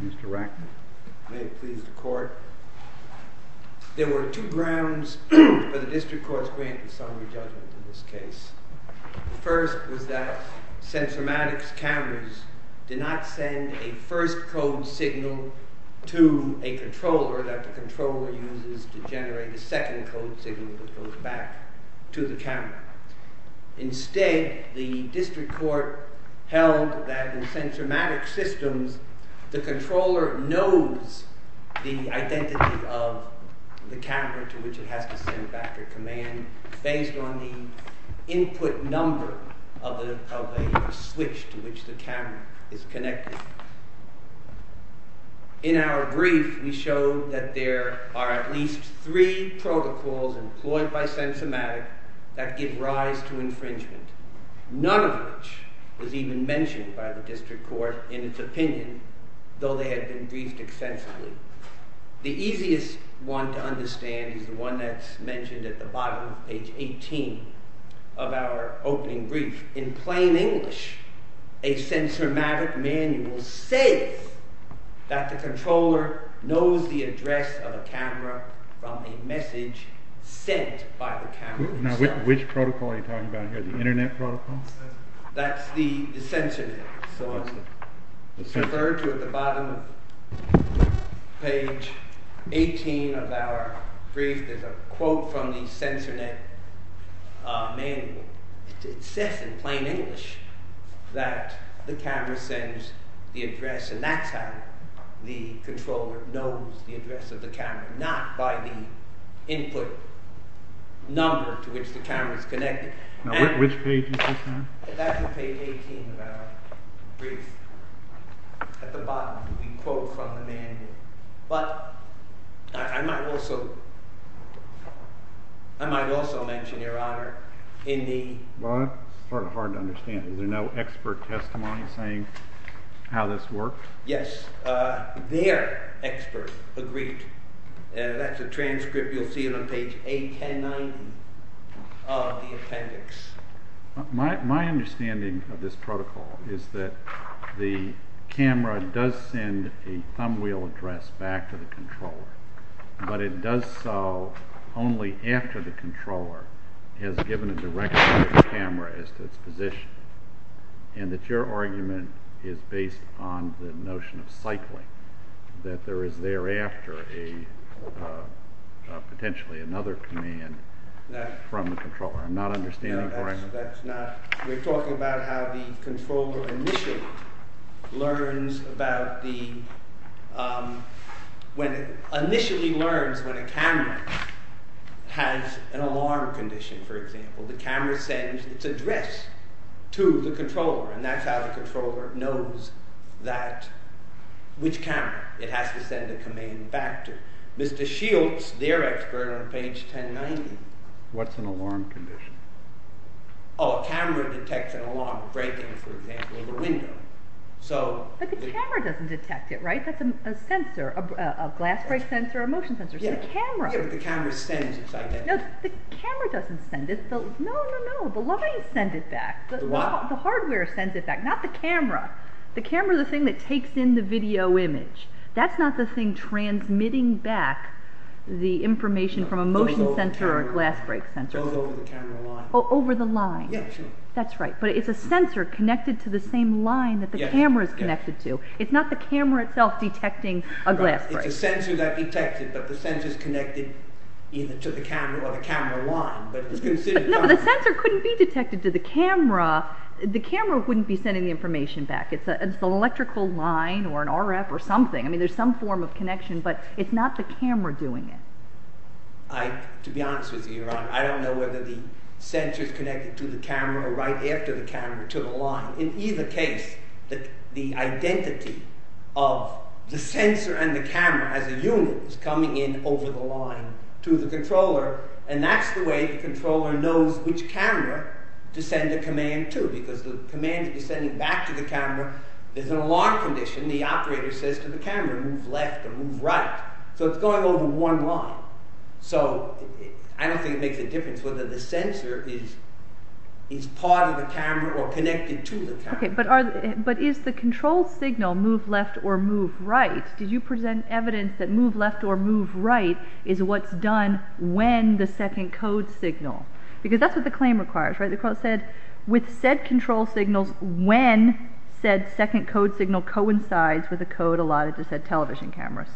Mr. Racknell, may it please the court. There were two grounds for the district court's grant of summary judgment in this case. The first was that Sensormatic's cameras did not send a first code signal to a controller that the controller uses to generate a second code signal that goes back to the camera. Instead, the district court held that in Sensormatic's systems, the controller knows the identity of the camera to which it has to send back the command based on the input number of the switch to which the camera is connected. In our brief, we showed that there are at least three protocols employed by Sensormatic that give rise to infringement, none of which was even mentioned by the district court in its opinion, though they had been briefed extensively. The easiest one to understand is the one that's mentioned at the bottom of page 18 of our opening brief. In plain English, a Sensormatic manual says that the controller knows the address of a camera from a message sent by the camera. Now, which protocol are you talking about here, the internet protocol? That's the Sensormatic. It's referred to at the bottom of page 18 of our brief. There's a quote from the Sensormatic manual. It says in plain English that the camera sends the address, and that's how the controller knows the address of the camera, not by the input number to which the camera is connected. Now, which page is this on? That's page 18 of our brief. At the bottom, we quote from the manual. But I might also mention, Your Honor, in the… Well, that's sort of hard to understand. Is there no expert testimony saying how this works? Yes, their expert agreed. That's a transcript. You'll see it on page 1890 of the appendix. My understanding of this protocol is that the camera does send a thumbwheel address back to the controller, but it does so only after the controller has given a direction to the camera as to its position, and that your argument is based on the notion of cycling, that there is thereafter potentially another command from the controller. I'm not understanding correctly. We're talking about how the controller initially learns when a camera has an alarm condition, for example. The camera sends its address to the controller, and that's how the controller knows which camera it has to send a command back to. Mr. Shields, their expert, on page 1090… What's an alarm condition? Oh, a camera detects an alarm breaking, for example, in the window. But the camera doesn't detect it, right? That's a sensor, a glass break sensor, a motion sensor. It's the camera. Yeah, but the camera sends its identity. No, the camera doesn't send it. No, no, no, the lines send it back. The what? Not the camera. The camera is the thing that takes in the video image. That's not the thing transmitting back the information from a motion sensor or a glass break sensor. It goes over the camera line. Over the line. Yeah, sure. That's right, but it's a sensor connected to the same line that the camera is connected to. It's not the camera itself detecting a glass break. It's a sensor that detects it, but the sensor is connected either to the camera or the camera line, but it's considered… No, but the sensor couldn't be detected to the camera. The camera wouldn't be sending the information back. It's an electrical line or an RF or something. I mean, there's some form of connection, but it's not the camera doing it. To be honest with you, Your Honor, I don't know whether the sensor is connected to the camera or right after the camera to the line. In either case, the identity of the sensor and the camera as a unit is coming in over the line to the controller, and that's the way the controller knows which camera to send a command to because the command is sending back to the camera. There's an alarm condition. The operator says to the camera, move left or move right. So it's going over one line. So I don't think it makes a difference whether the sensor is part of the camera or connected to the camera. Okay, but is the control signal move left or move right? Did you present evidence that move left or move right is what's done when the second code signal? Because that's what the claim requires, right? The claim said, with said control signals, when said second code signal coincides with a code allotted to said television camera.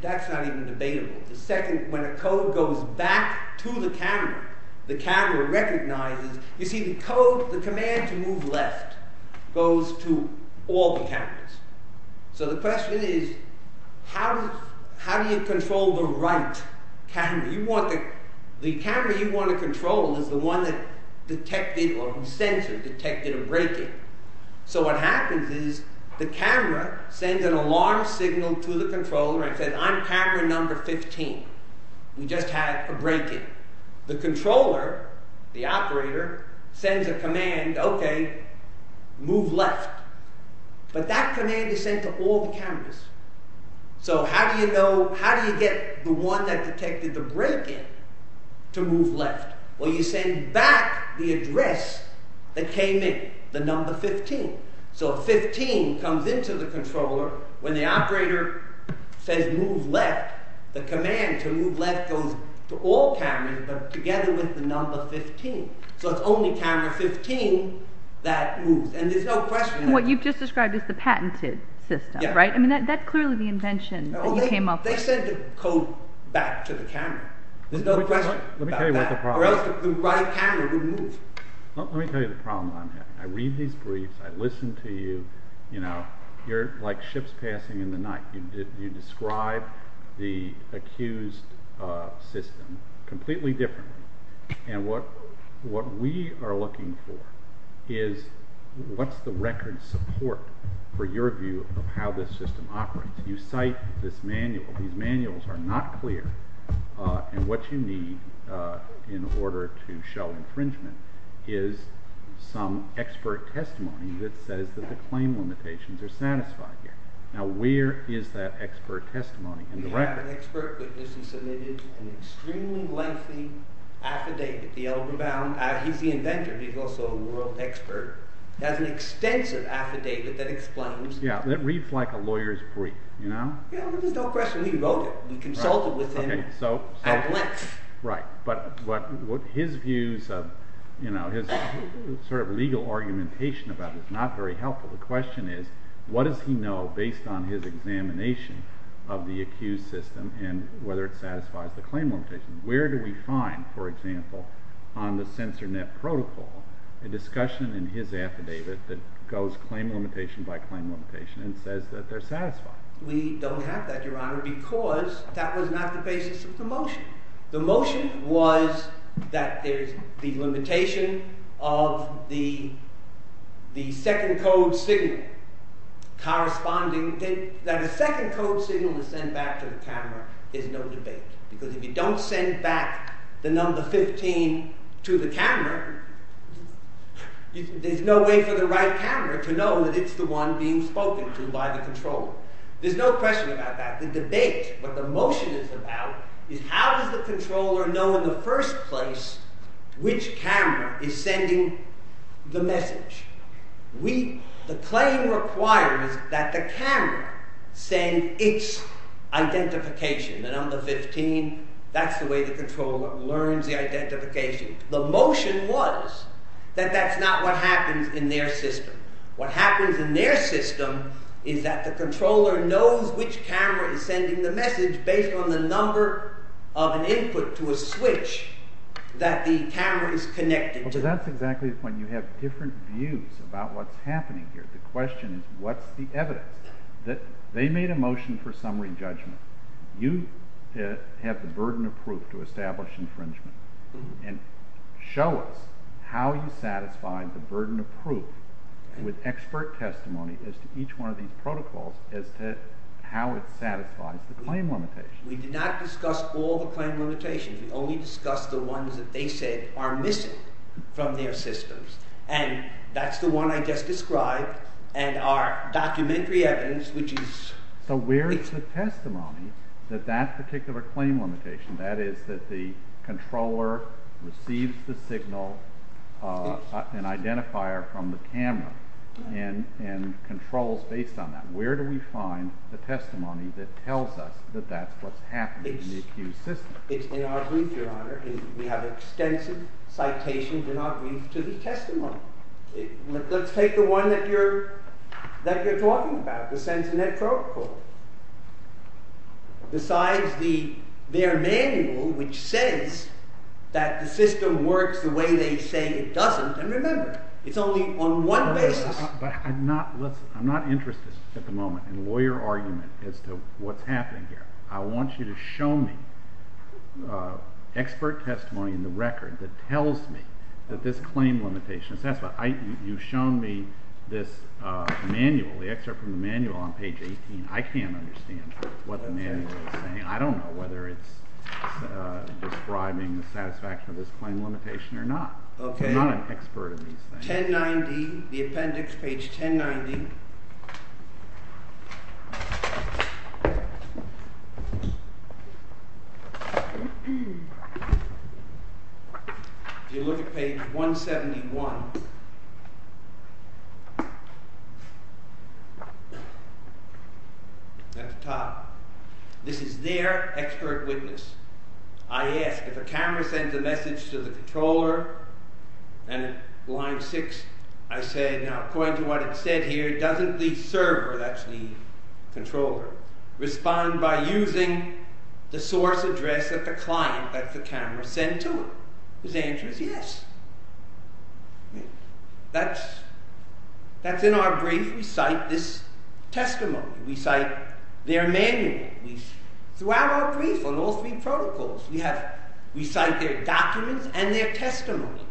That's not even debatable. When a code goes back to the camera, the camera recognizes. You see, the command to move left goes to all the cameras. So the question is, how do you control the right camera? The camera you want to control is the one that detected or the sensor detected a break-in. So what happens is the camera sends an alarm signal to the controller and says, I'm camera number 15. We just had a break-in. The controller, the operator, sends a command, okay, move left. But that command is sent to all the cameras. So how do you get the one that detected the break-in to move left? Well, you send back the address that came in, the number 15. So 15 comes into the controller. When the operator says move left, the command to move left goes to all cameras, but together with the number 15. So it's only camera 15 that moves. And there's no question. What you've just described is the patented system, right? I mean, that's clearly the invention that you came up with. They send the code back to the camera. There's no question about that, or else the right camera would move. Let me tell you the problem I'm having. I read these briefs. I listen to you. You're like ships passing in the night. You describe the accused system completely differently. And what we are looking for is what's the record support for your view of how this system operates. You cite this manual. These manuals are not clear. And what you need in order to show infringement is some expert testimony that says that the claim limitations are satisfied here. Now, where is that expert testimony in the record? We have an expert witness who submitted an extremely lengthy affidavit. He's the inventor. He's also a world expert. He has an extensive affidavit that explains. Yeah, that reads like a lawyer's brief, you know? Yeah, there's no question. He wrote it. We consulted with him at length. Right. But his views of, you know, his sort of legal argumentation about it is not very helpful. The question is, what does he know based on his examination of the accused system and whether it satisfies the claim limitation? Where do we find, for example, on the censor net protocol, a discussion in his affidavit that goes claim limitation by claim limitation and says that they're satisfied? We don't have that, Your Honor, because that was not the basis of the motion. The motion was that there's the limitation of the second code signal corresponding that the second code signal is sent back to the camera is no debate. Because if you don't send back the number 15 to the camera, there's no way for the right camera to know that it's the one being spoken to by the controller. There's no question about that. The debate, what the motion is about, is how does the controller know in the first place which camera is sending the message? The claim requires that the camera send its identification. The number 15, that's the way the controller learns the identification. The motion was that that's not what happens in their system. What happens in their system is that the controller knows which camera is sending the message based on the number of an input to a switch that the camera is connected to. Well, that's exactly the point. You have different views about what's happening here. The question is what's the evidence? They made a motion for summary judgment. You have the burden of proof to establish infringement, and show us how you satisfy the burden of proof with expert testimony as to each one of these protocols as to how it satisfies the claim limitations. We did not discuss all the claim limitations. We only discussed the ones that they said are missing from their systems, and that's the one I just described and our documentary evidence, which is… So where is the testimony that that particular claim limitation, that is, that the controller receives the signal, an identifier from the camera, and controls based on that? Where do we find the testimony that tells us that that's what's happening in the accused system? It's in our brief, Your Honor. We have extensive citations in our brief to the testimony. Let's take the one that you're talking about, the Sentinet Protocol, besides their manual, which says that the system works the way they say it doesn't. And remember, it's only on one basis. I'm not interested at the moment in lawyer argument as to what's happening here. I want you to show me expert testimony in the record that tells me that this claim limitation is satisfied. You've shown me this manual, the excerpt from the manual on page 18. I can't understand what the manual is saying. I don't know whether it's describing the satisfaction of this claim limitation or not. I'm not an expert in these things. Page 1090, the appendix, page 1090. If you look at page 171, at the top, this is their expert witness. I ask, if a camera sends a message to the controller, and line 6, I say, now according to what it said here, doesn't the server, that's the controller, respond by using the source address of the client that the camera sent to it? His answer is yes. That's in our brief. We cite this testimony. We cite their manual. Throughout our brief on all three protocols, we cite their documents and their testimony.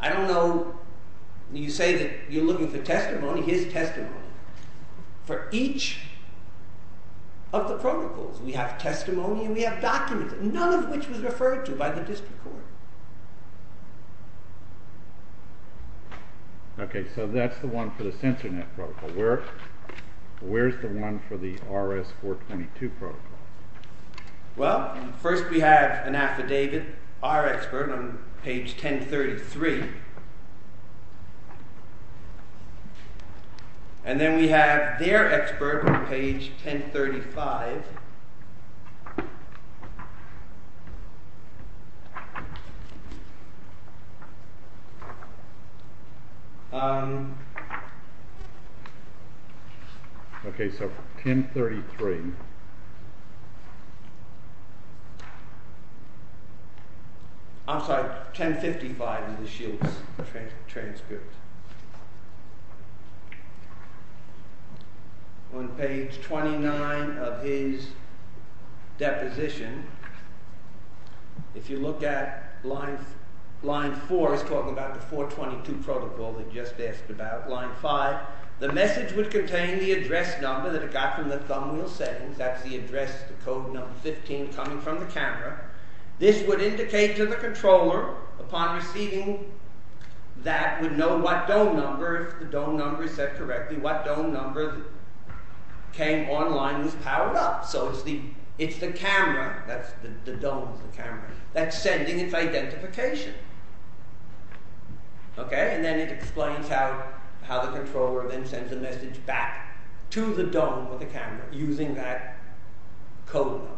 I don't know, you say that you're looking for testimony, here's testimony. For each of the protocols, we have testimony and we have documents, none of which was referred to by the district court. Okay, so that's the one for the sensor net protocol. Where's the one for the RS-422 protocol? Well, first we have an affidavit, our expert on page 1033. And then we have their expert on page 1035. Okay, so 1033. I'm sorry, 1055 in the Shields transcript. On page 29 of his deposition, if you look at line 4, he's talking about the 422 protocol that he just asked about. Line 5, the message would contain the address number that it got from the thumbwheel settings. That's the address, the code number 15 coming from the camera. This would indicate to the controller upon receiving that would know what dome number, if the dome number is set correctly, what dome number came online and was powered up. So it's the camera, the dome is the camera, that's sending its identification. Okay, and then it explains how the controller then sends a message back to the dome or the camera using that code number.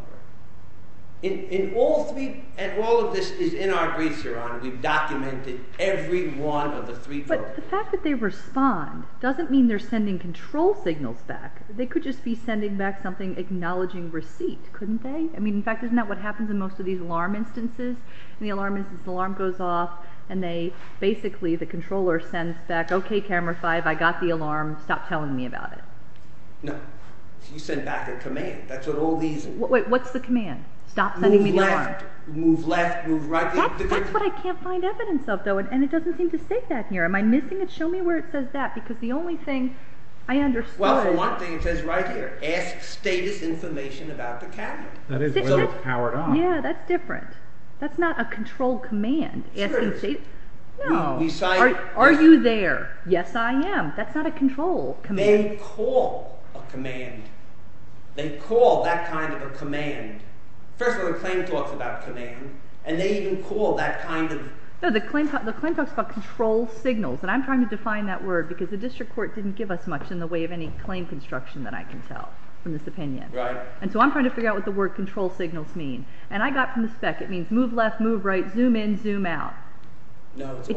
And all of this is in our briefs, Your Honor. We've documented every one of the three protocols. But the fact that they respond doesn't mean they're sending control signals back. They could just be sending back something acknowledging receipt, couldn't they? I mean, in fact, isn't that what happens in most of these alarm instances? In the alarm instances, the alarm goes off and basically the controller sends back, okay, camera 5, I got the alarm. Stop telling me about it. No, you send back a command. Wait, what's the command? Stop sending me the alarm. Move left, move right. That's what I can't find evidence of, though, and it doesn't seem to state that here. Am I missing it? Show me where it says that, because the only thing I understood. Well, for one thing, it says right here, ask status information about the cabinet. That is what it's powered on. Yeah, that's different. That's not a control command, asking status. No. Are you there? Yes, I am. That's not a control command. They may call a command. They call that kind of a command. First of all, the claim talks about command, and they even call that kind of… No, the claim talks about control signals, and I'm trying to define that word because the district court didn't give us much in the way of any claim construction that I can tell from this opinion. Right. And so I'm trying to figure out what the word control signals mean, and I got from the spec. It means move left, move right, zoom in, zoom out. No, it's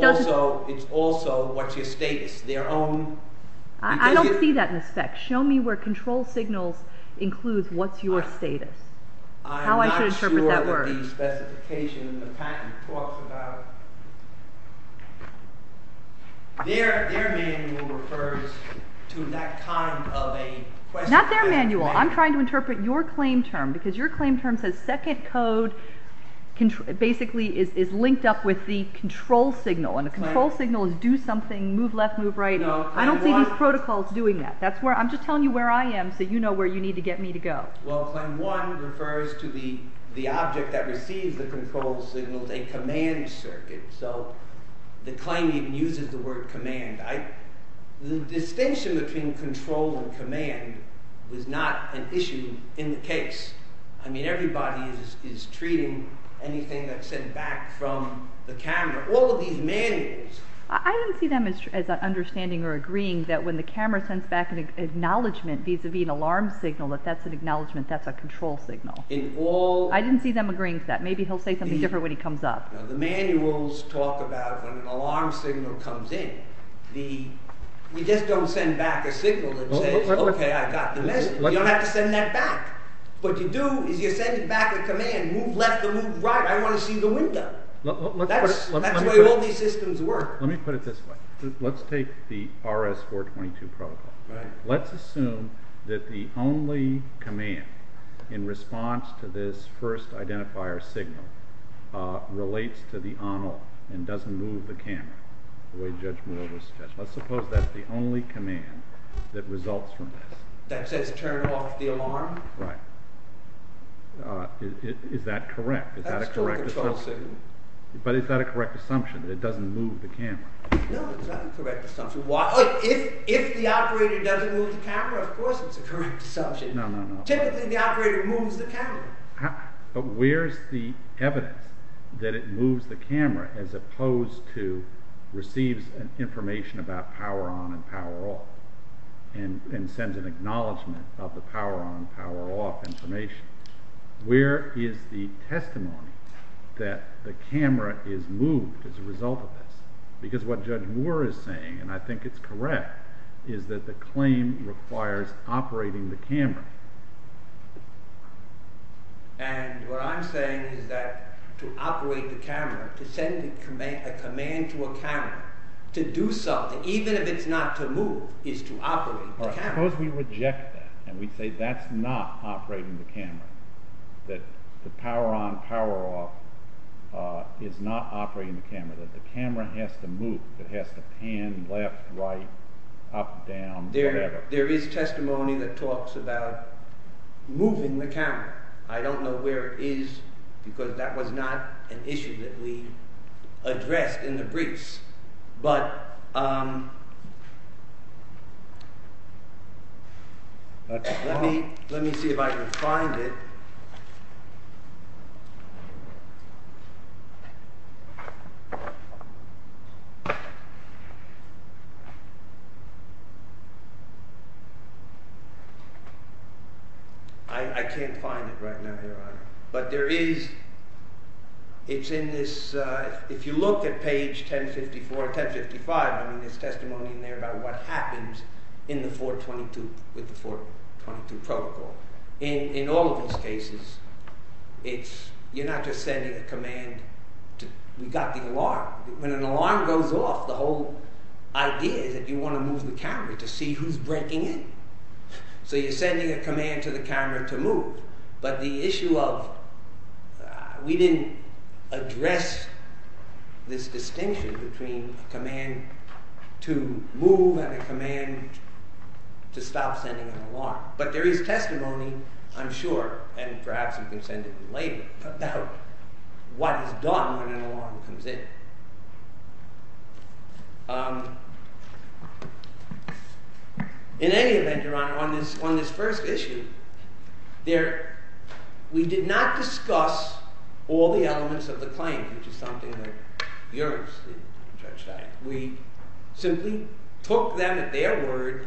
also what's your status, their own… I don't see that in the spec. Show me where control signals include what's your status, how I should interpret that word. I'm not sure that the specification in the patent talks about… Their manual refers to that kind of a… Not their manual. I'm trying to interpret your claim term because your claim term says second code basically is linked up with the control signal, and the control signal is do something, move left, move right. I don't see these protocols doing that. I'm just telling you where I am so you know where you need to get me to go. Well, claim one refers to the object that receives the control signals, a command circuit, so the claim even uses the word command. The distinction between control and command was not an issue in the case. I mean, everybody is treating anything that's sent back from the camera, all of these manuals… I don't see them as understanding or agreeing that when the camera sends back an acknowledgment vis-à-vis an alarm signal that that's an acknowledgment, that's a control signal. In all… I didn't see them agreeing to that. Maybe he'll say something different when he comes up. The manuals talk about when an alarm signal comes in. We just don't send back a signal that says, okay, I got the message. You don't have to send that back. What you do is you send back a command, move left or move right, I want to see the window. That's the way all these systems work. Let me put it this way. Let's take the RS-422 protocol. Let's assume that the only command in response to this first identifier signal relates to the animal and doesn't move the camera. Let's suppose that's the only command that results from this. That says turn off the alarm? Right. Is that correct? But is that a correct assumption, that it doesn't move the camera? No, it's not a correct assumption. If the operator doesn't move the camera, of course it's a correct assumption. No, no, no. Typically the operator moves the camera. But where's the evidence that it moves the camera as opposed to receives information about power on and power off and sends an acknowledgment of the power on and power off information? Where is the testimony that the camera is moved as a result of this? Because what Judge Moore is saying, and I think it's correct, is that the claim requires operating the camera. And what I'm saying is that to operate the camera, to send a command to a camera to do something, even if it's not to move, is to operate the camera. Suppose we reject that and we say that's not operating the camera. That the power on, power off is not operating the camera. That the camera has to move. It has to pan left, right, up, down, whatever. There is testimony that talks about moving the camera. I don't know where it is because that was not an issue that we addressed in the briefs. But let me see if I can find it. I can't find it right now, Your Honor. But there is, it's in this, if you look at page 1054, 1055, there's testimony in there about what happens in the 422, with the 422 protocol. In all of these cases, it's, you're not just sending a command. We got the alarm. When an alarm goes off, the whole idea is that you want to move the camera to see who's breaking in. So you're sending a command to the camera to move. But the issue of, we didn't address this distinction between a command to move and a command to stop sending an alarm. But there is testimony, I'm sure, and perhaps you can send it in later, about what is done when an alarm comes in. In any event, Your Honor, on this first issue, we did not discuss all the elements of the claim, which is something that yours did, Judge Stein. We simply took them at their word.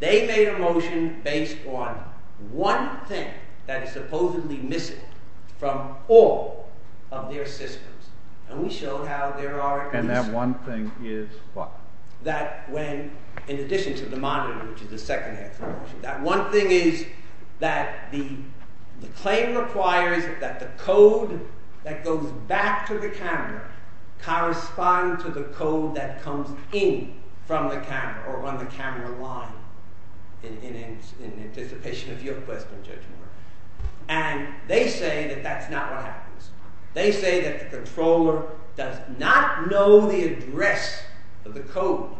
They made a motion based on one thing that is supposedly missing from all of their systems. And we showed how there are at least... And that one thing is what? That when, in addition to the monitor, which is the second half of the motion, that one thing is that the claim requires that the code that goes back to the camera correspond to the code that comes in from the camera, or on the camera line, in anticipation of your question, Judge Moore. And they say that that's not what happens. They say that the controller does not know the address of the code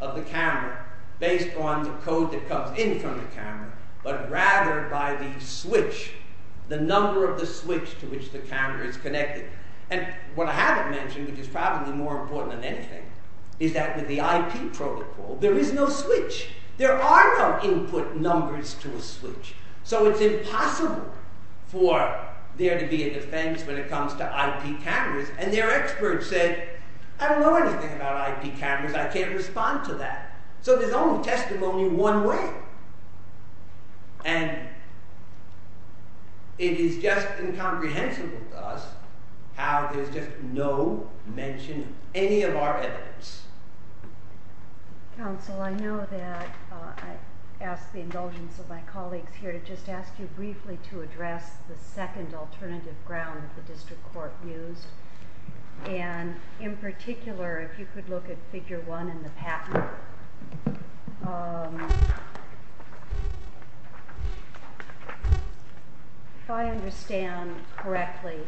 of the camera based on the code that comes in from the camera, but rather by the switch, the number of the switch to which the camera is connected. And what I haven't mentioned, which is probably more important than anything, is that with the IP protocol, there is no switch. There are no input numbers to a switch. So it's impossible for there to be a defense when it comes to IP cameras. And their experts said, I don't know anything about IP cameras. I can't respond to that. So there's only testimony one way. And it is just incomprehensible to us how there's just no mention of any of our evidence. Counsel, I know that I asked the indulgence of my colleagues here to just ask you briefly to address the second alternative ground that the district court used. And in particular, if you could look at figure one in the patent. If I understand correctly,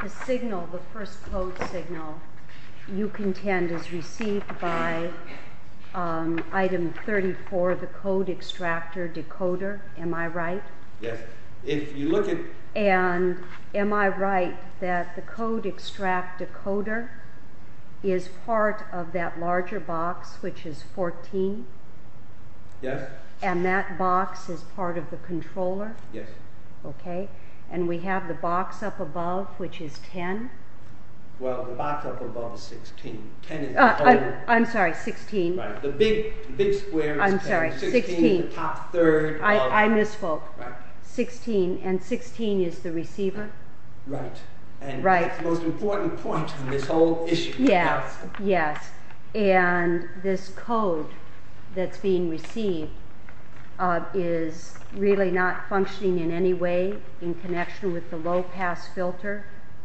the signal, the first code signal you contend is received by item 34, the code extractor decoder. Am I right? Yes. And am I right that the code extract decoder is part of that larger box, which is 14? Yes. And that box is part of the controller? Yes. Okay. And we have the box up above, which is 10? Well, the box up above is 16. I'm sorry, 16. The big square is 10. I'm sorry, 16. The top third. I misspoke. 16. And 16 is the receiver? Right. Right. And that's the most important point in this whole issue. Yes. Yes. And this code that's being received is really not functioning in any way in connection with the low-pass filter,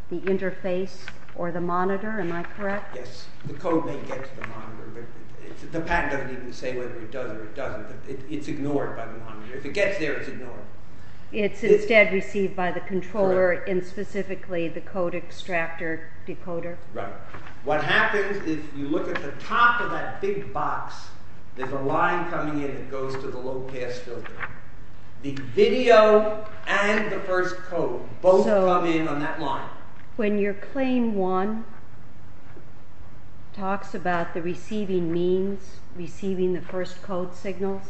the interface, or the monitor. Am I correct? Yes. The code may get to the monitor, but the patent doesn't even say whether it does or it doesn't. It's ignored by the monitor. If it gets there, it's ignored. It's instead received by the controller and specifically the code extractor decoder? Right. What happens is you look at the top of that big box, there's a line coming in that goes to the low-pass filter. The video and the first code both come in on that line. When your claim 1 talks about the receiving means, receiving the first code signals,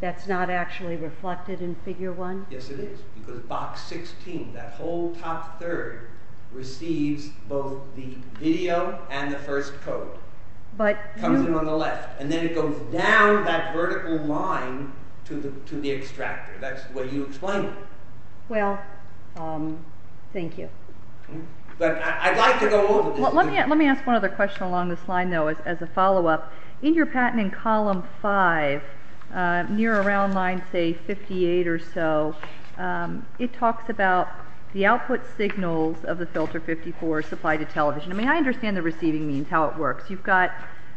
that's not actually reflected in figure 1? Yes, it is. Because box 16, that whole top third, receives both the video and the first code. It comes in on the left. And then it goes down that vertical line to the extractor. That's the way you explain it. Well, thank you. Let me ask one other question along this line, though, as a follow-up. In your patent in column 5, near around line, say, 58 or so, it talks about the output signals of the filter 54 supplied to television. I mean, I understand the receiving means, how it works. You've got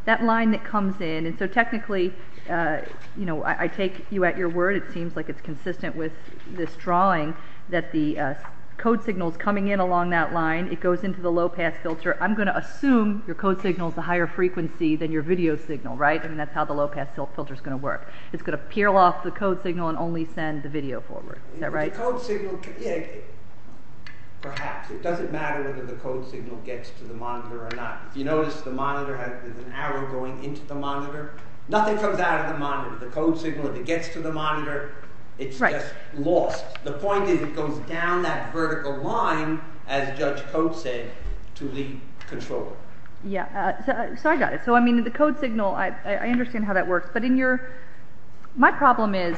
that line that comes in. So technically, I take you at your word. It seems like it's consistent with this drawing that the code signal is coming in along that line. It goes into the low-pass filter. I'm going to assume your code signal is a higher frequency than your video signal, right? I mean, that's how the low-pass filter is going to work. It's going to peel off the code signal and only send the video forward. Is that right? The code signal, perhaps. It doesn't matter whether the code signal gets to the monitor or not. If you notice, the monitor has an arrow going into the monitor. Nothing comes out of the monitor. The code signal, if it gets to the monitor, it's just lost. The point is it goes down that vertical line, as Judge Coates said, to the controller. Yeah, so I got it. So, I mean, the code signal, I understand how that works. But my problem is,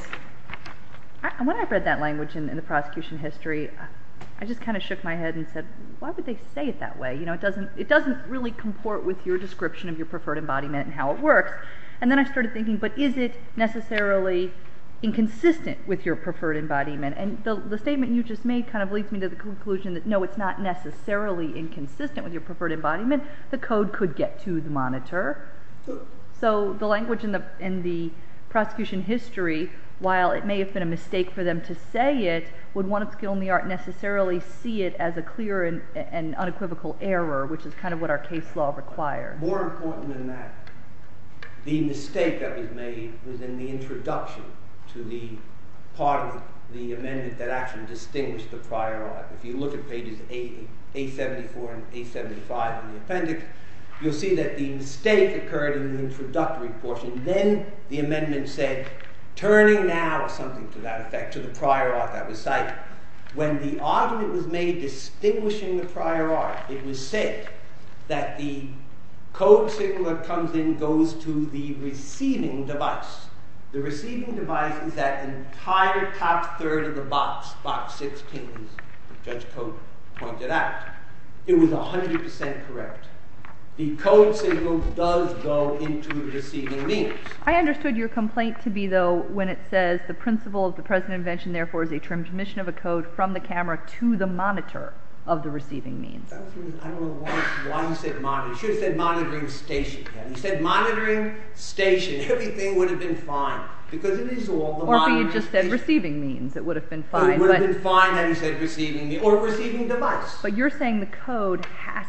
when I read that language in the prosecution history, I just kind of shook my head and said, why would they say it that way? You know, it doesn't really comport with your description of your preferred embodiment and how it works. And then I started thinking, but is it necessarily inconsistent with your preferred embodiment? And the statement you just made kind of leads me to the conclusion that, no, it's not necessarily inconsistent with your preferred embodiment. So the language in the prosecution history, while it may have been a mistake for them to say it, would one of skill and the art necessarily see it as a clear and unequivocal error, which is kind of what our case law requires. More important than that, the mistake that was made was in the introduction to the part of the amendment that actually distinguished the prior art. If you look at pages 874 and 875 in the appendix, you'll see that the mistake occurred in the introductory portion. Then the amendment said, turning now, or something to that effect, to the prior art that was cited. When the argument was made distinguishing the prior art, it was said that the code signal that comes in goes to the receiving device. The receiving device is that entire top third of the box, box 16, as Judge Code pointed out. It was 100% correct. The code signal does go into the receiving means. I understood your complaint to be, though, when it says the principle of the present invention, therefore, is a transmission of a code from the camera to the monitor of the receiving means. I don't know why he said monitor. He should have said monitoring station. He said monitoring station. Everything would have been fine, because it is all the monitoring station. Or if he had just said receiving means, it would have been fine. It would have been fine had he said receiving means, or receiving device. But you're saying the code has,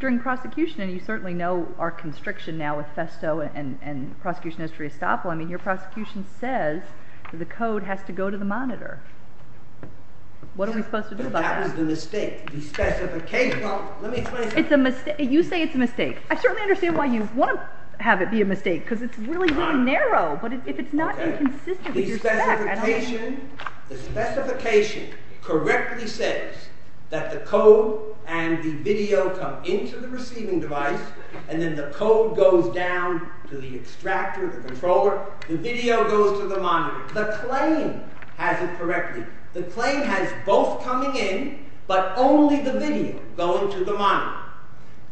during prosecution, and you certainly know our constriction now with Festo and prosecution history of Staple. I mean, your prosecution says the code has to go to the monitor. What are we supposed to do about that? That was the mistake. The specification, let me explain. It's a mistake. You say it's a mistake. I certainly understand why you want to have it be a mistake, because it's really, really narrow. But if it's not inconsistent with your stack, I don't know. The specification correctly says that the code and the video come into the receiving device, and then the code goes down to the extractor, the controller. The video goes to the monitor. The claim has it correctly. The claim has both coming in, but only the video going to the monitor.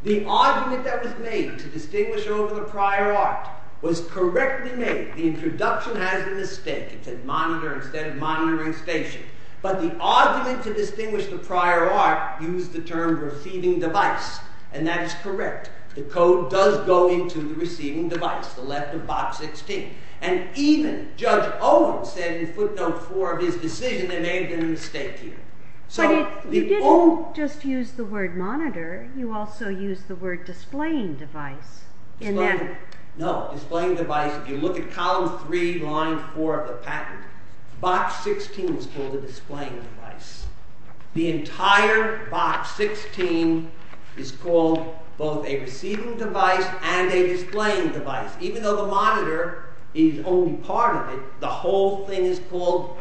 The argument that was made to distinguish over the prior art was correctly made. The introduction has a mistake. It said monitor instead of monitoring station. But the argument to distinguish the prior art used the term receiving device, and that is correct. The code does go into the receiving device, the left of box 16. And even Judge Owen said in footnote 4 of his decision they made a mistake here. But you didn't just use the word monitor. You also used the word displaying device. No, displaying device, if you look at column 3, line 4 of the patent, box 16 is called a displaying device. The entire box 16 is called both a receiving device and a displaying device, even though the monitor is only part of it, the whole thing is called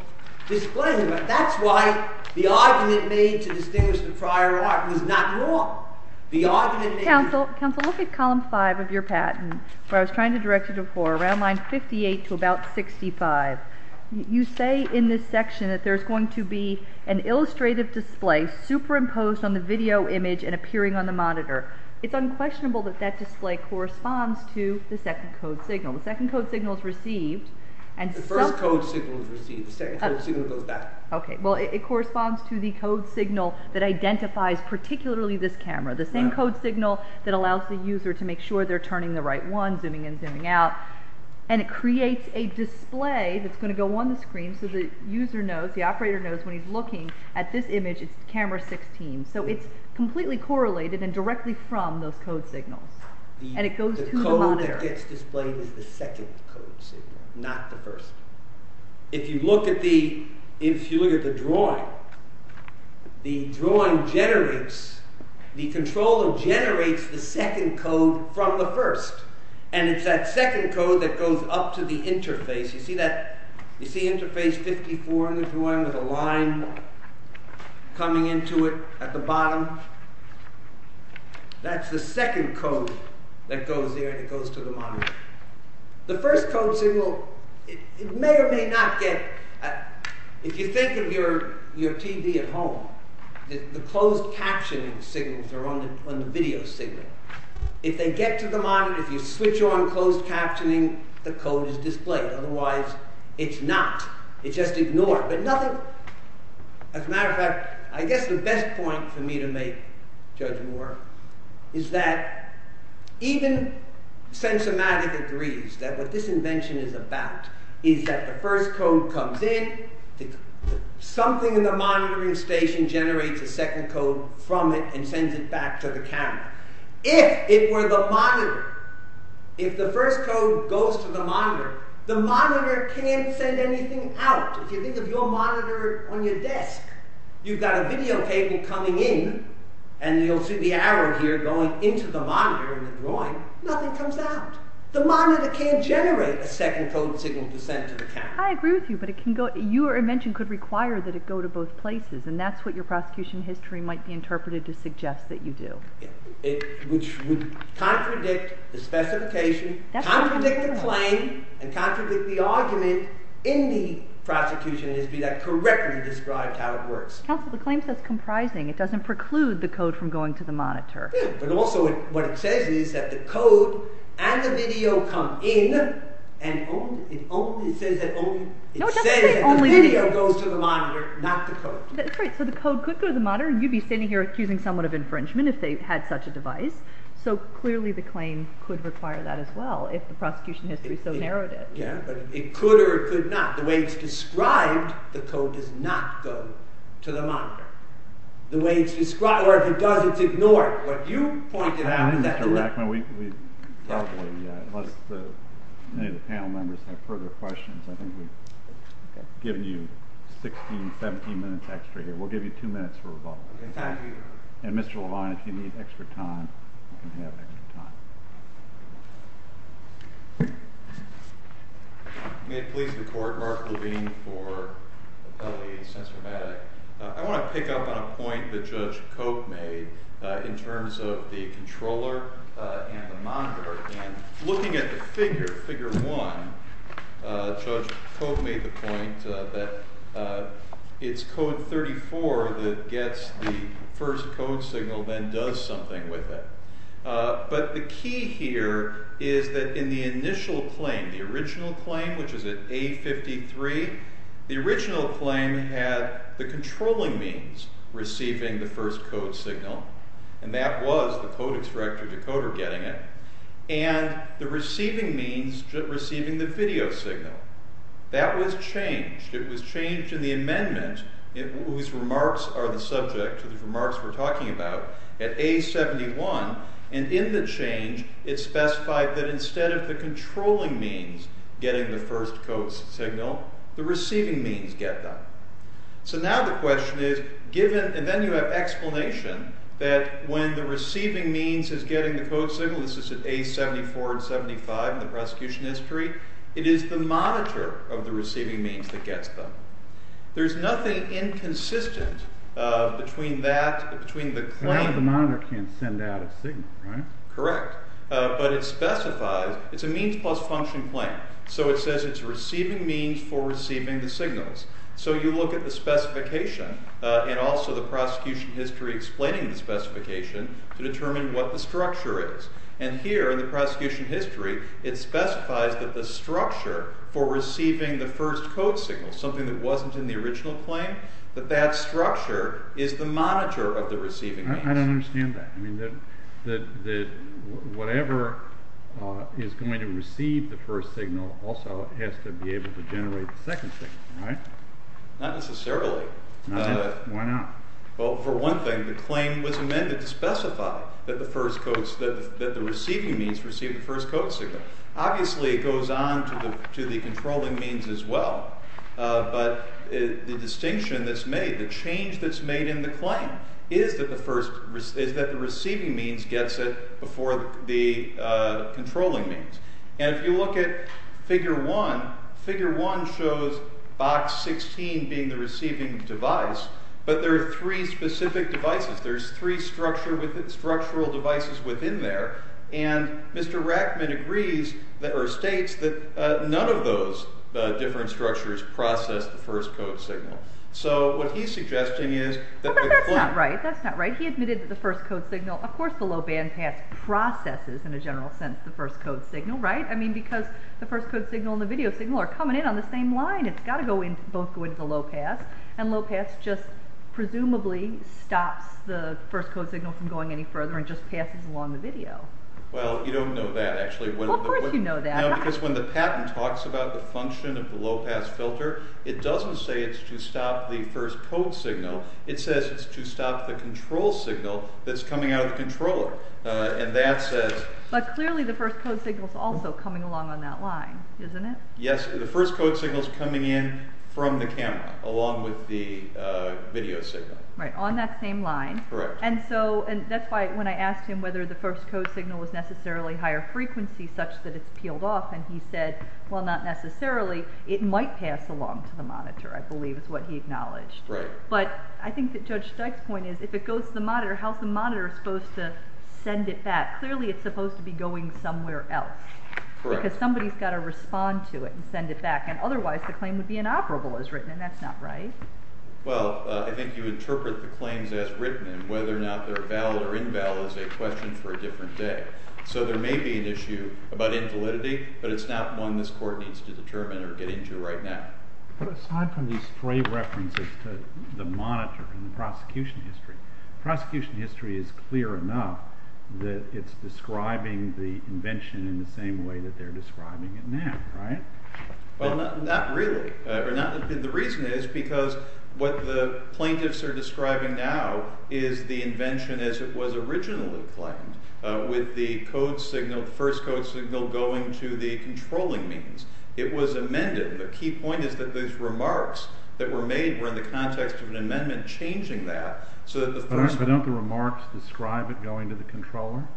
displaying device. That's why the argument made to distinguish the prior art was not wrong. Counsel, look at column 5 of your patent, where I was trying to direct you before, around line 58 to about 65. You say in this section that there's going to be an illustrative display superimposed on the video image and appearing on the monitor. It's unquestionable that that display corresponds to the second code signal. The second code signal is received. The first code signal is received. The second code signal goes back. Okay, well it corresponds to the code signal that identifies particularly this camera. The same code signal that allows the user to make sure they're turning the right one, zooming in, zooming out. And it creates a display that's going to go on the screen so the user knows, the operator knows when he's looking at this image, it's camera 16. So it's completely correlated and directly from those code signals. And it goes to the monitor. The code that gets displayed is the second code signal, not the first. If you look at the drawing, the drawing generates, the controller generates the second code from the first. And it's that second code that goes up to the interface. You see that, you see interface 54 in the drawing with a line coming into it at the bottom? That's the second code that goes there, that goes to the monitor. The first code signal, it may or may not get, if you think of your TV at home, the closed captioning signals are on the video signal. If they get to the monitor, if you switch on closed captioning, the code is displayed. Otherwise, it's not. It's just ignored. But nothing, as a matter of fact, I guess the best point for me to make, Judge Moore, is that even Sensomatic agrees that what this invention is about is that the first code comes in, something in the monitoring station generates a second code from it and sends it back to the camera. If it were the monitor, if the first code goes to the monitor, the monitor can't send anything out. If you think of your monitor on your desk, you've got a video cable coming in, and you'll see the arrow here going into the monitor in the drawing, nothing comes out. The monitor can't generate a second code signal to send to the camera. I agree with you, but your invention could require that it go to both places, and that's what your prosecution history might be interpreted to suggest that you do. It would contradict the specification, contradict the claim, and contradict the argument in the prosecution, as to be that correctly described how it works. Counsel, the claim says comprising. It doesn't preclude the code from going to the monitor. Yeah, but also what it says is that the code and the video come in, and it only says that the video goes to the monitor, not the code. Right, so the code could go to the monitor, and you'd be standing here accusing someone of infringement if they had such a device, so clearly the claim could require that as well, if the prosecution history so narrowed it. Yeah, but it could or it could not. The way it's described, the code does not go to the monitor. The way it's described, or if it does, it's ignored. What you pointed out is that the… Mr. Rackman, we probably, unless any of the panel members have further questions, I think we've given you 16, 17 minutes extra here. We'll give you two minutes for rebuttal. Okay, thank you. And Mr. Levine, if you need extra time, you can have extra time. May it please the Court, Mark Levine for the penalty of censurabatic. I want to pick up on a point that Judge Cope made in terms of the controller and the monitor. And looking at the figure, figure one, Judge Cope made the point that it's code 34 that gets the first code signal, then does something with it. But the key here is that in the initial claim, the original claim, which is at A53, the original claim had the controlling means receiving the first code signal, and that was the code extractor decoder getting it, and the receiving means receiving the video signal. That was changed. It was changed in the amendment, whose remarks are the subject of the remarks we're talking about, at A71. And in the change, it specified that instead of the controlling means getting the first code signal, the receiving means get them. So now the question is, given, and then you have explanation that when the receiving means is getting the code signal, this is at A74 and 75 in the prosecution history, it is the monitor of the receiving means that gets them. There's nothing inconsistent between that, between the claim... Correct. But it specifies, it's a means plus function claim, so it says it's receiving means for receiving the signals. So you look at the specification and also the prosecution history explaining the specification to determine what the structure is. And here in the prosecution history, it specifies that the structure for receiving the first code signal, something that wasn't in the original claim, that that structure is the monitor of the receiving means. I don't understand that. I mean, that whatever is going to receive the first signal also has to be able to generate the second signal, right? Not necessarily. Why not? Well, for one thing, the claim was amended to specify that the receiving means receive the first code signal. Obviously, it goes on to the controlling means as well. But the distinction that's made, the change that's made in the claim is that the receiving means gets it before the controlling means. And if you look at figure one, figure one shows box 16 being the receiving device, but there are three specific devices. There's three structural devices within there. And Mr. Rackman agrees or states that none of those different structures process the first code signal. So what he's suggesting is that the claim… Well, that's not right. That's not right. He admitted that the first code signal… Of course the low bandpass processes, in a general sense, the first code signal, right? I mean, because the first code signal and the video signal are coming in on the same line. It's got to both go into the low pass. And low pass just presumably stops the first code signal from going any further and just passes along the video. Well, you don't know that, actually. Of course you know that. Because when the patent talks about the function of the low pass filter, it doesn't say it's to stop the first code signal. It says it's to stop the control signal that's coming out of the controller. And that says… But clearly the first code signal is also coming along on that line, isn't it? Yes, the first code signal is coming in from the camera along with the video signal. Right, on that same line. Correct. And so that's why when I asked him whether the first code signal was necessarily higher frequency such that it's peeled off, and he said, well, not necessarily. It might pass along to the monitor, I believe, is what he acknowledged. Right. But I think that Judge Stike's point is, if it goes to the monitor, how's the monitor supposed to send it back? Clearly it's supposed to be going somewhere else. Correct. Because somebody's got to respond to it and send it back. And otherwise the claim would be inoperable as written, and that's not right. Well, I think you interpret the claims as written, and whether or not they're valid or invalid is a question for a different day. So there may be an issue about invalidity, but it's not one this Court needs to determine or get into right now. But aside from these stray references to the monitor and the prosecution history, prosecution history is clear enough that it's describing the invention in the same way that they're describing it now, right? Well, not really. The reason is because what the plaintiffs are describing now is the invention as it was originally claimed, with the first code signal going to the controlling means. It was amended. The key point is that those remarks that were made were in the context of an amendment changing that. But don't the remarks describe it going to the controller?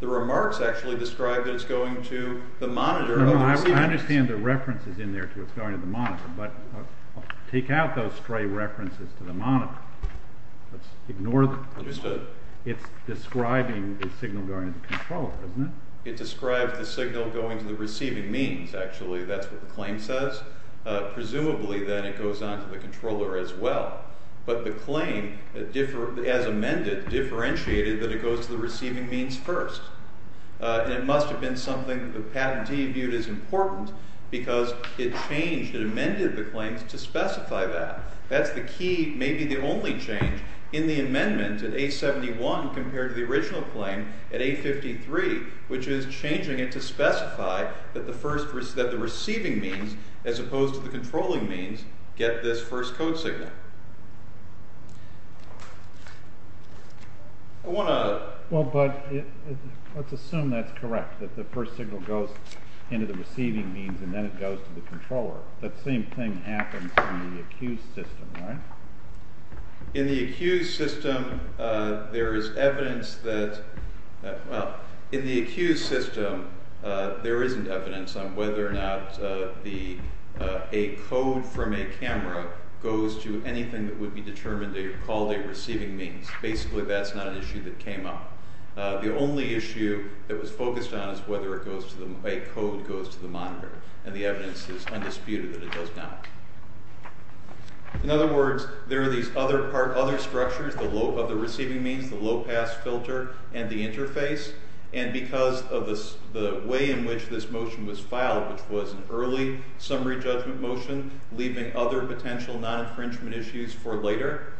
The remarks actually describe that it's going to the monitor. I understand the references in there to it's going to the monitor, but take out those stray references to the monitor. Ignore them. Understood. It's describing the signal going to the controller, isn't it? It describes the signal going to the receiving means, actually. That's what the claim says. Presumably, then, it goes on to the controller as well. But the claim, as amended, differentiated that it goes to the receiving means first. And it must have been something that the patentee viewed as important because it changed, it amended the claims to specify that. That's the key, maybe the only change in the amendment at A71 compared to the original claim at A53, which is changing it to specify that the receiving means, as opposed to the controlling means, get this first code signal. I want to... Well, but let's assume that's correct, that the first signal goes into the receiving means and then it goes to the controller. That same thing happens in the accused system, right? In the accused system, there is evidence that... Well, in the accused system, there isn't evidence on whether or not a code from a camera goes to anything that would be determined to be called a receiving means. Basically, that's not an issue that came up. The only issue that was focused on is whether a code goes to the monitor, and the evidence is undisputed that it does not. In other words, there are these other structures of the receiving means, the low-pass filter and the interface, and because of the way in which this motion was filed, which was an early summary judgment motion, leaving other potential non-infringement issues for later,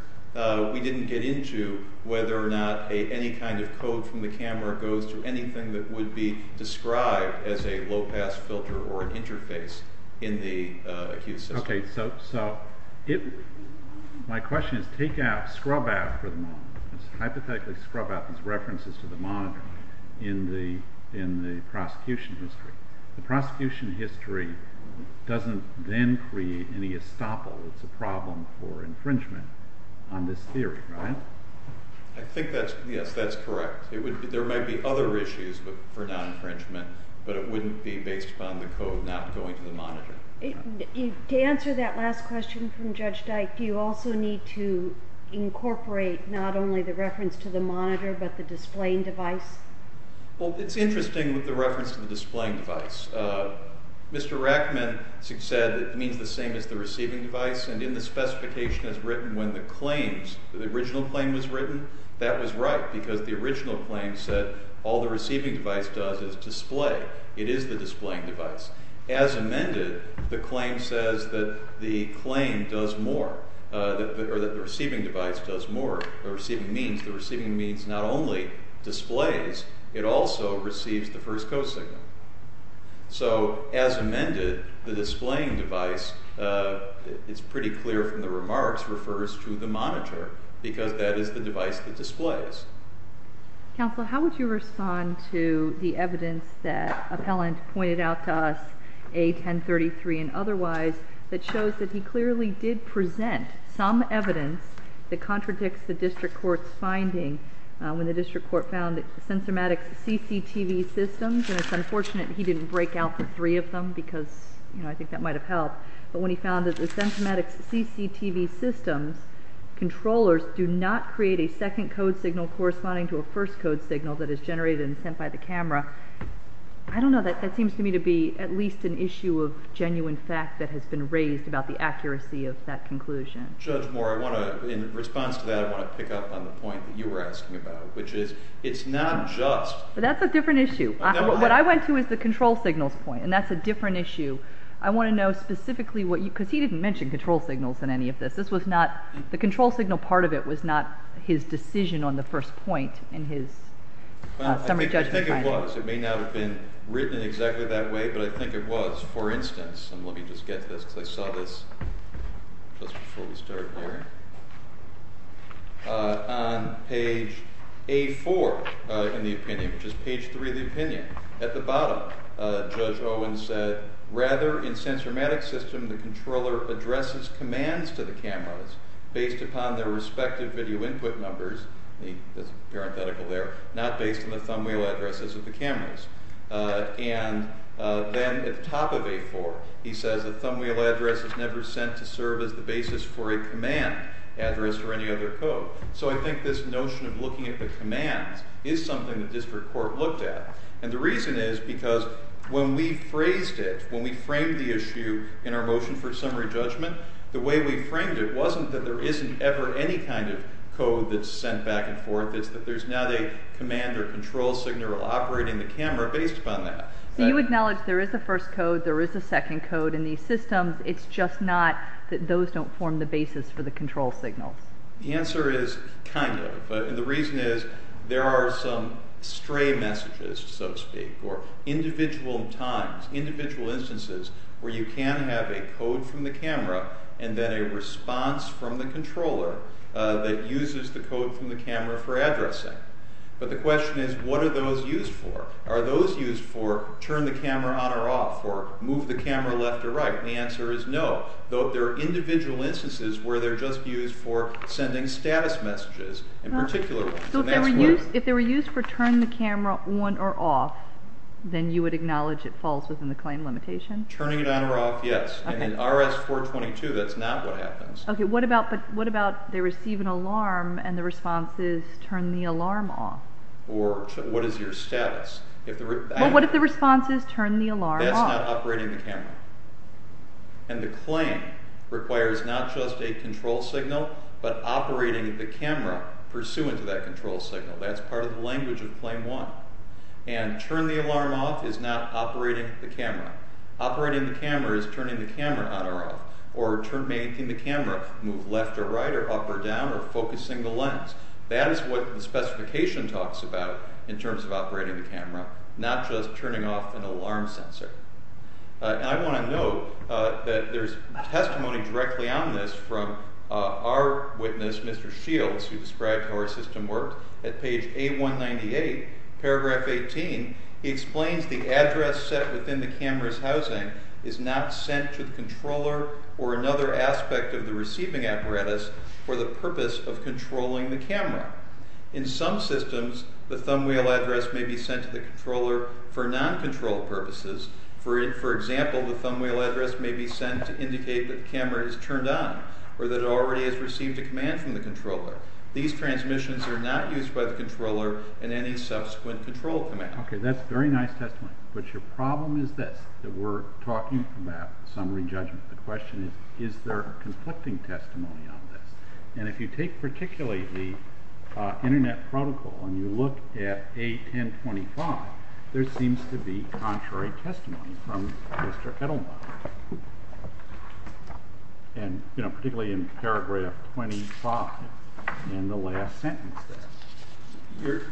we didn't get into whether or not any kind of code from the camera goes to anything that would be described as a low-pass filter or an interface in the accused system. Okay, so my question is, take out, scrub out for the moment, hypothetically scrub out these references to the monitor in the prosecution history. The prosecution history doesn't then create any estoppel. It's a problem for infringement on this theory, right? I think that's, yes, that's correct. There might be other issues for non-infringement, but it wouldn't be based upon the code not going to the monitor. To answer that last question from Judge Dyke, do you also need to incorporate not only the reference to the monitor, but the displaying device? Well, it's interesting with the reference to the displaying device. Mr. Rachman said it means the same as the receiving device, and in the specification as written when the claims, the original claim was written, that was right because the original claim said all the receiving device does is display. It is the displaying device. As amended, the claim says that the claim does more, or that the receiving device does more. The receiving means not only displays, it also receives the first code signal. So, as amended, the displaying device, it's pretty clear from the remarks, refers to the monitor because that is the device that displays. Counsel, how would you respond to the evidence that Appellant pointed out to us, A1033 and otherwise, that shows that he clearly did present some evidence that contradicts the District Court's finding when the District Court found that the Sensormatics CCTV systems, and it's unfortunate he didn't break out the three of them because, you know, I think that might have helped, but when he found that the Sensormatics CCTV systems controllers do not create a second code signal corresponding to a first code signal that is generated and sent by the camera, I don't know, that seems to me to be at least an issue of genuine fact that has been raised about the accuracy of that conclusion. Judge Moore, I want to, in response to that, I want to pick up on the point that you were asking about, which is it's not just... But that's a different issue. What I went to is the control signals point, and that's a different issue. I want to know specifically what you, because he didn't mention control signals in any of this. This was not, the control signal part of it was not his decision on the first point in his summary judgment finding. Well, I think it was. It may not have been written exactly that way, but I think it was. For instance, and let me just get to this because I saw this just before we started hearing, on page A4 in the opinion, which is page 3 of the opinion, at the bottom, Judge Owen said, rather, in sensorimatic system, the controller addresses commands to the cameras based upon their respective video input numbers, the parenthetical there, not based on the thumb wheel addresses of the cameras. And then at the top of A4, he says the thumb wheel address is never sent to serve as the basis for a command address or any other code. So I think this notion of looking at the commands is something the district court looked at. And the reason is because when we phrased it, when we framed the issue in our motion for summary judgment, the way we framed it wasn't that there isn't ever any kind of code that's sent back and forth. It's that there's not a command or control signal operating the camera based upon that. So you acknowledge there is a first code, there is a second code in these systems. It's just not that those don't form the basis for the control signals. The answer is kind of. And the reason is there are some stray messages, so to speak, or individual times, individual instances where you can have a code from the camera and then a response from the controller that uses the code from the camera for addressing. But the question is what are those used for? Are those used for turn the camera on or off or move the camera left or right? And the answer is no. Though there are individual instances where they're just used for sending status messages in particular. So if they were used for turn the camera on or off, then you would acknowledge it falls within the claim limitation? Turning it on or off, yes. And in RS-422, that's not what happens. Okay, but what about they receive an alarm and the response is turn the alarm off? Or what is your status? Well, what if the response is turn the alarm off? That's not operating the camera. And the claim requires not just a control signal but operating the camera pursuant to that control signal. That's part of the language of Claim 1. And turn the alarm off is not operating the camera. Operating the camera is turning the camera on or off. Or turning the camera, move left or right or up or down or focusing the lens. That is what the specification talks about in terms of operating the camera, not just turning off an alarm sensor. And I want to note that there's testimony directly on this from our witness, Mr. Shields, who described how our system works. At page A198, paragraph 18, he explains the address set within the camera's housing is not sent to the controller or another aspect of the receiving apparatus for the purpose of controlling the camera. In some systems, the thumbwheel address may be sent to the controller for non-control purposes. For example, the thumbwheel address may be sent to indicate that the camera is turned on or that it already has received a command from the controller. These transmissions are not used by the controller in any subsequent control command. Okay, that's very nice testimony. But your problem is this, that we're talking about summary judgment. The question is, is there conflicting testimony on this? And if you take particularly the internet protocol and you look at A1025, there seems to be contrary testimony from Mr. Edelman. And, you know, particularly in paragraph 25 in the last sentence there.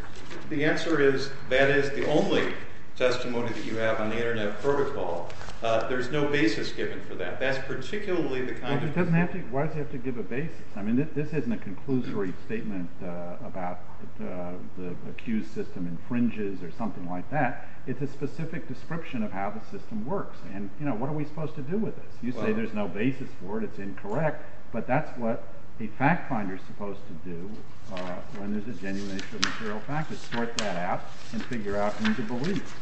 The answer is that is the only testimony that you have on the internet protocol. There's no basis given for that. That's particularly the kind of— Well, it doesn't have to—why does it have to give a basis? I mean, this isn't a conclusory statement about the accused system infringes or something like that. It's a specific description of how the system works. And, you know, what are we supposed to do with this? You say there's no basis for it. It's incorrect. But that's what a fact finder is supposed to do when there's a genuination of material fact. It's sort that out and figure out who to believe.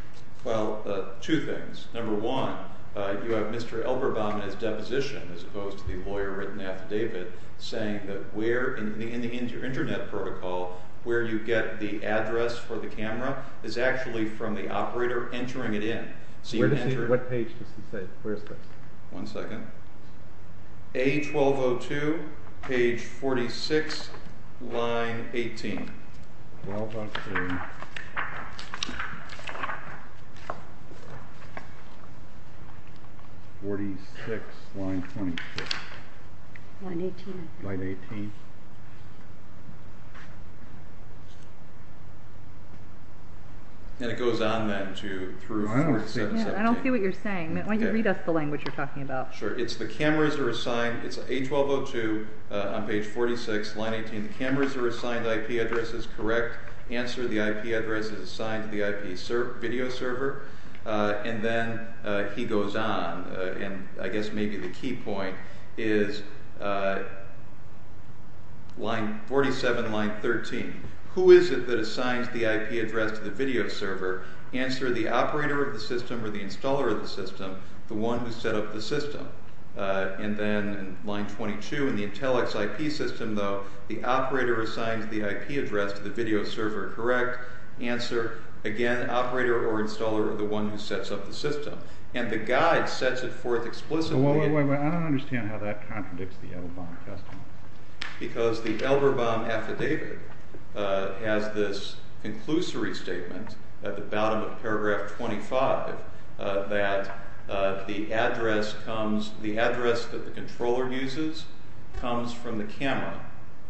Well, two things. Number one, you have Mr. Elberbaum in his deposition, as opposed to the lawyer written affidavit, saying that where in the internet protocol where you get the address for the camera is actually from the operator entering it in. Where does he—what page does he say? Where is this? One second. A1202, page 46, line 18. 46, line 26. Line 18. And it goes on then to— I don't see what you're saying. Why don't you read us the language you're talking about? Sure. It's the cameras are assigned—it's A1202 on page 46, line 18. The cameras are assigned IP addresses, correct. Answer, the IP address is assigned to the IP video server. And then he goes on. And I guess maybe the key point is 47, line 13. Who is it that assigns the IP address to the video server? Answer, the operator of the system or the installer of the system, the one who set up the system. And then line 22, in the Intellix IP system, though, the operator assigns the IP address to the video server. Correct. Answer, again, operator or installer or the one who sets up the system. And the guide sets it forth explicitly— Wait, wait, wait. I don't understand how that contradicts the Elderbaum testimony. Because the Elderbaum affidavit has this conclusory statement at the bottom of paragraph 25 that the address that the controller uses comes from the camera.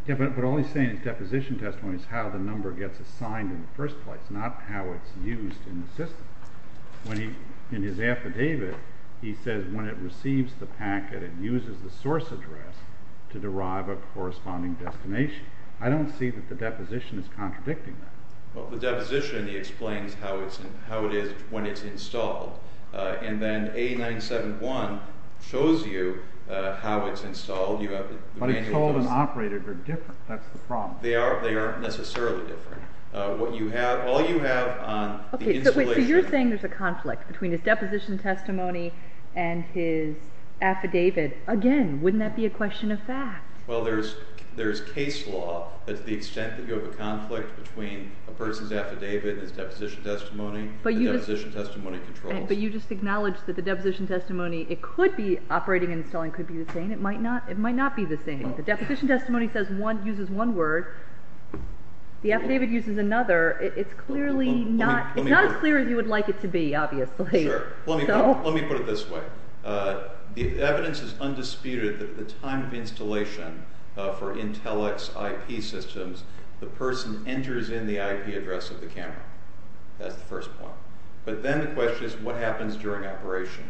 Yeah, but all he's saying in his deposition testimony is how the number gets assigned in the first place, not how it's used in the system. In his affidavit, he says when it receives the packet, it uses the source address to derive a corresponding destination. I don't see that the deposition is contradicting that. Well, the deposition explains how it is when it's installed. And then A971 shows you how it's installed. But installed and operated are different. That's the problem. They aren't necessarily different. What you have—all you have on the installation— Okay, so you're saying there's a conflict between his deposition testimony and his affidavit. Again, wouldn't that be a question of fact? Well, there's case law. To the extent that you have a conflict between a person's affidavit and his deposition testimony, the deposition testimony controls. But you just acknowledged that the deposition testimony, it could be operating and installing could be the same. It might not be the same. The deposition testimony uses one word. The affidavit uses another. It's clearly not as clear as you would like it to be, obviously. Sure. Let me put it this way. The evidence is undisputed that at the time of installation for Intel X IP systems, the person enters in the IP address of the camera. That's the first point. But then the question is, what happens during operation?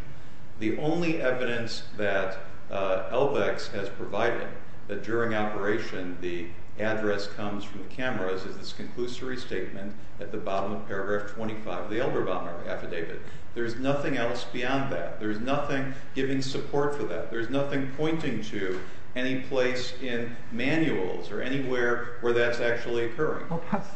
The only evidence that LVEX has provided that during operation the address comes from the cameras is this conclusory statement at the bottom of paragraph 25 of the Elderbaum Affidavit. There's nothing else beyond that. There's nothing giving support for that. There's nothing pointing to any place in manuals or anywhere where that's actually occurring.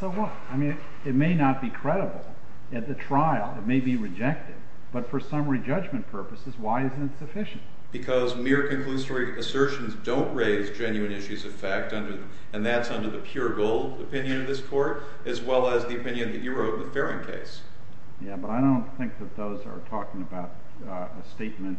So what? I mean, it may not be credible. At the trial, it may be rejected. But for summary judgment purposes, why isn't it sufficient? Because mere conclusory assertions don't raise genuine issues of fact, and that's under the pure gold opinion of this Court, as well as the opinion that you wrote in the Farron case. Yeah, but I don't think that those are talking about a statement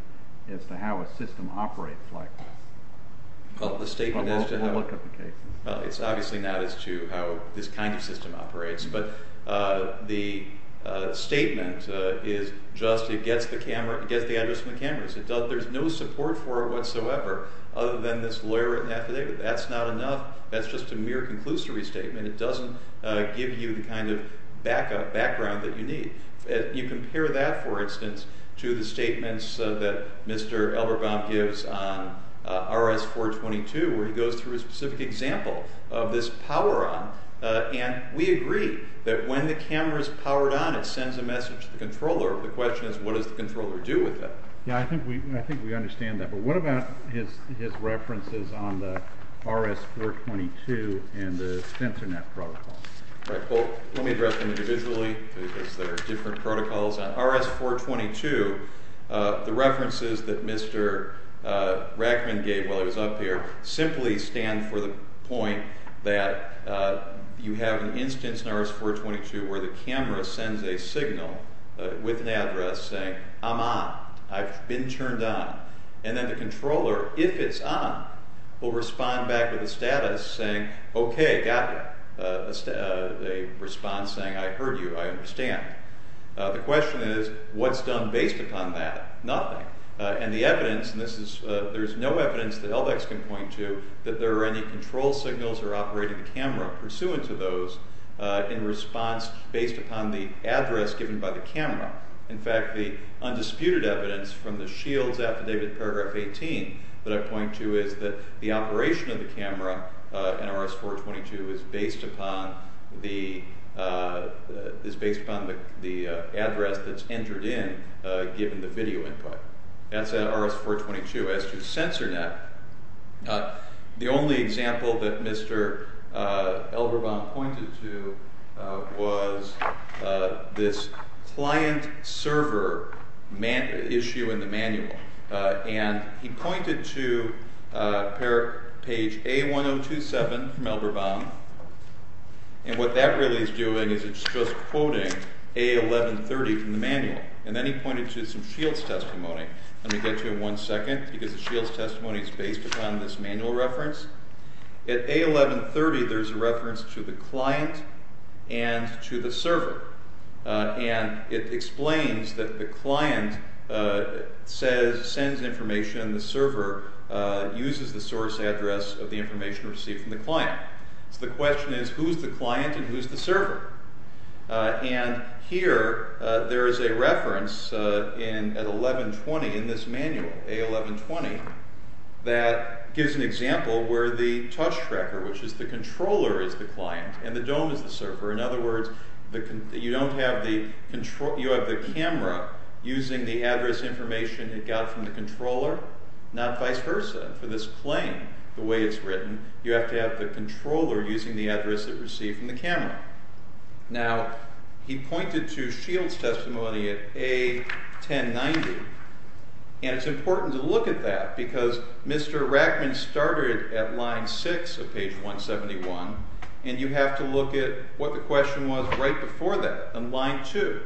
as to how a system operates like this. Well, the statement as to how... Well, we'll look at the cases. Well, it's obviously not as to how this kind of system operates. But the statement is just it gets the address from the cameras. There's no support for it whatsoever other than this lawyer-written affidavit. That's not enough. That's just a mere conclusory statement. It doesn't give you the kind of background that you need. You compare that, for instance, to the statements that Mr. Elberbaum gives on RS-422, where he goes through a specific example of this power-on. And we agree that when the camera's powered on, it sends a message to the controller. The question is, what does the controller do with that? Yeah, I think we understand that. Well, what about his references on the RS-422 and the sensor net protocol? Right, well, let me address them individually because they're different protocols. On RS-422, the references that Mr. Rackman gave while he was up here simply stand for the point that you have an instance in RS-422 where the camera sends a signal with an address saying, I'm on, I've been turned on. And then the controller, if it's on, will respond back with a status saying, okay, got you. A response saying, I heard you, I understand. The question is, what's done based upon that? Nothing. And the evidence, and there's no evidence that LDEX can point to that there are any control signals that are operating the camera pursuant to those in response based upon the address given by the camera. In fact, the undisputed evidence from the Shields Affidavit, paragraph 18, that I point to is that the operation of the camera in RS-422 is based upon the address that's entered in given the video input. That's RS-422. As to the sensor net, the only example that Mr. Elberbaum pointed to was this client server issue in the manual. And he pointed to page A1027 from Elberbaum, and what that really is doing is it's just quoting A1130 from the manual. And then he pointed to some Shields testimony. Let me get to it in one second, because the Shields testimony is based upon this manual reference. At A1130, there's a reference to the client and to the server, and it explains that the client sends information, and the server uses the source address of the information received from the client. So the question is, who's the client and who's the server? And here, there is a reference at A1120 in this manual, A1120, that gives an example where the touch tracker, which is the controller, is the client, and the dome is the server. In other words, you have the camera using the address information it got from the controller, not vice versa. For this claim, the way it's written, you have to have the controller using the address it received from the camera. Now, he pointed to Shields testimony at A1090, and it's important to look at that, because Mr. Rackman started at line 6 of page 171, and you have to look at what the question was right before that, on line 2.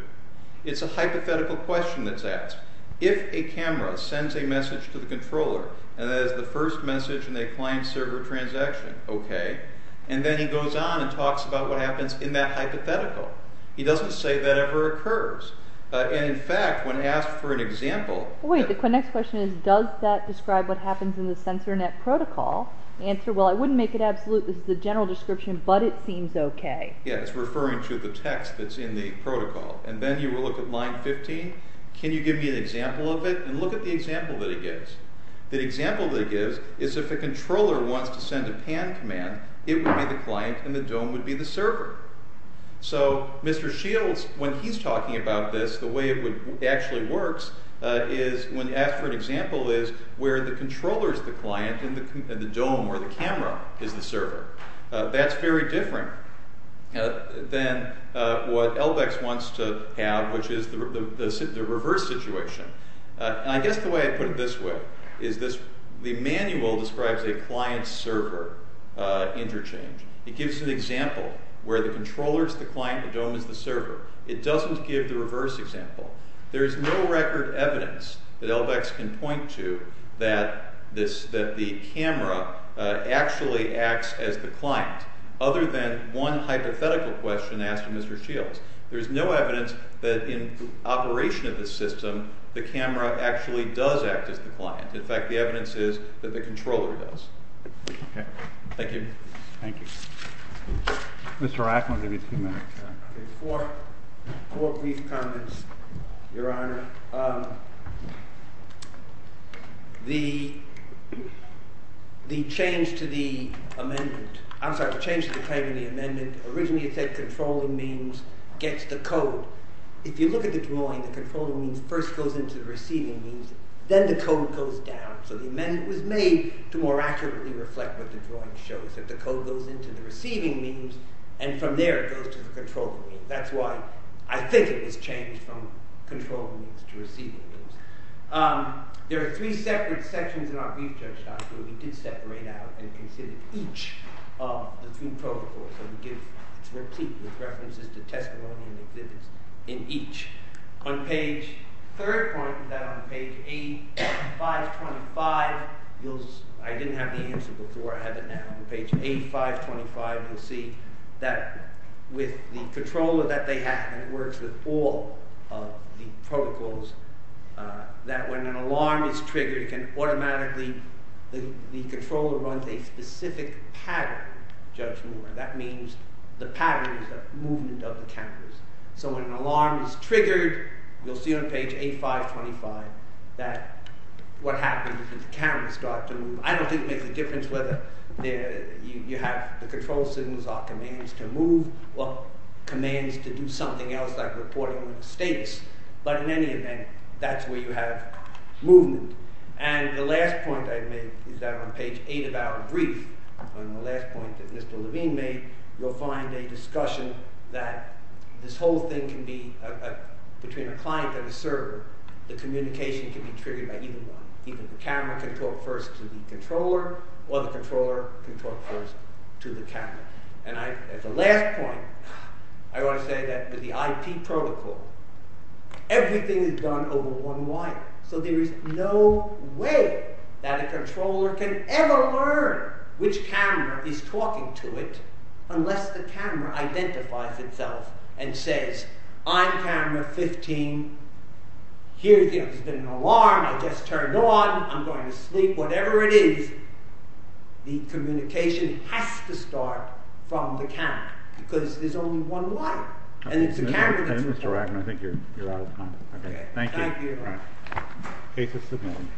It's a hypothetical question that's asked. If a camera sends a message to the controller, and that is the first message in a client-server transaction, okay, and then he goes on and talks about what happens in that hypothetical. He doesn't say that ever occurs. In fact, when asked for an example... Wait, the next question is, does that describe what happens in the sensor net protocol? The answer, well, I wouldn't make it absolute. This is the general description, but it seems okay. Yeah, it's referring to the text that's in the protocol. And then you will look at line 15. Can you give me an example of it? And look at the example that he gives. The example that he gives is, if a controller wants to send a PAN command, it would be the client, and the dome would be the server. So, Mr. Shields, when he's talking about this, the way it actually works is, when asked for an example is, where the controller is the client, and the dome, or the camera, is the server. That's very different than what LBEX wants to have, which is the reverse situation. And I guess the way I put it this way is, the manual describes a client-server interchange. It gives an example where the controller is the client, the dome is the server. It doesn't give the reverse example. There is no record evidence that LBEX can point to that the camera actually acts as the client, other than one hypothetical question asked of Mr. Shields. There is no evidence that in operation of the system, the camera actually does act as the client. In fact, the evidence is that the controller does. Thank you. Thank you. Mr. Rackman, you have two minutes. Four brief comments, Your Honor. The change to the amendment, I'm sorry, the change to the claim in the amendment, originally it said controlling means gets the code. If you look at the drawing, the controlling means first goes into the receiving means, then the code goes down. So the amendment was made to more accurately reflect what the drawing shows, that the code goes into the receiving means, and from there it goes to the controlling means. That's why I think it was changed from controlling means to receiving means. There are three separate sections in our brief judgement where we did separate out and consider each of the three protocols. So we give a repeat with references to testimonies and exhibits in each. On page 3, on page 8, 525, I didn't have the answer before, I have it now. On page 8, 525, you'll see that with the controller that they have, and it works with all of the protocols, that when an alarm is triggered, it can automatically, the controller runs a specific pattern judgment. That means the pattern is the movement of the counters. So when an alarm is triggered, you'll see on page 8, 525, that what happens is that the counters start to move. I don't think it makes a difference whether you have the control systems or commands to move or commands to do something else like reporting the states, but in any event, that's where you have movement. And the last point I made is that on page 8 of our brief, on the last point that Mr. Levine made, you'll find a discussion that this whole thing can be, between a client and a server, the communication can be triggered by either one. Either the camera can talk first to the controller, or the controller can talk first to the camera. And at the last point, I want to say that with the IP protocol, everything is done over one wire. So there is no way that a controller can ever learn which camera is talking to it, unless the camera identifies itself and says, I'm camera 15, there's been an alarm, I just turned on, I'm going to sleep, whatever it is, the communication has to start from the camera, because there's only one wire. And it's the camera that's reporting. I think you're out of time. Thank you. Case is submitted.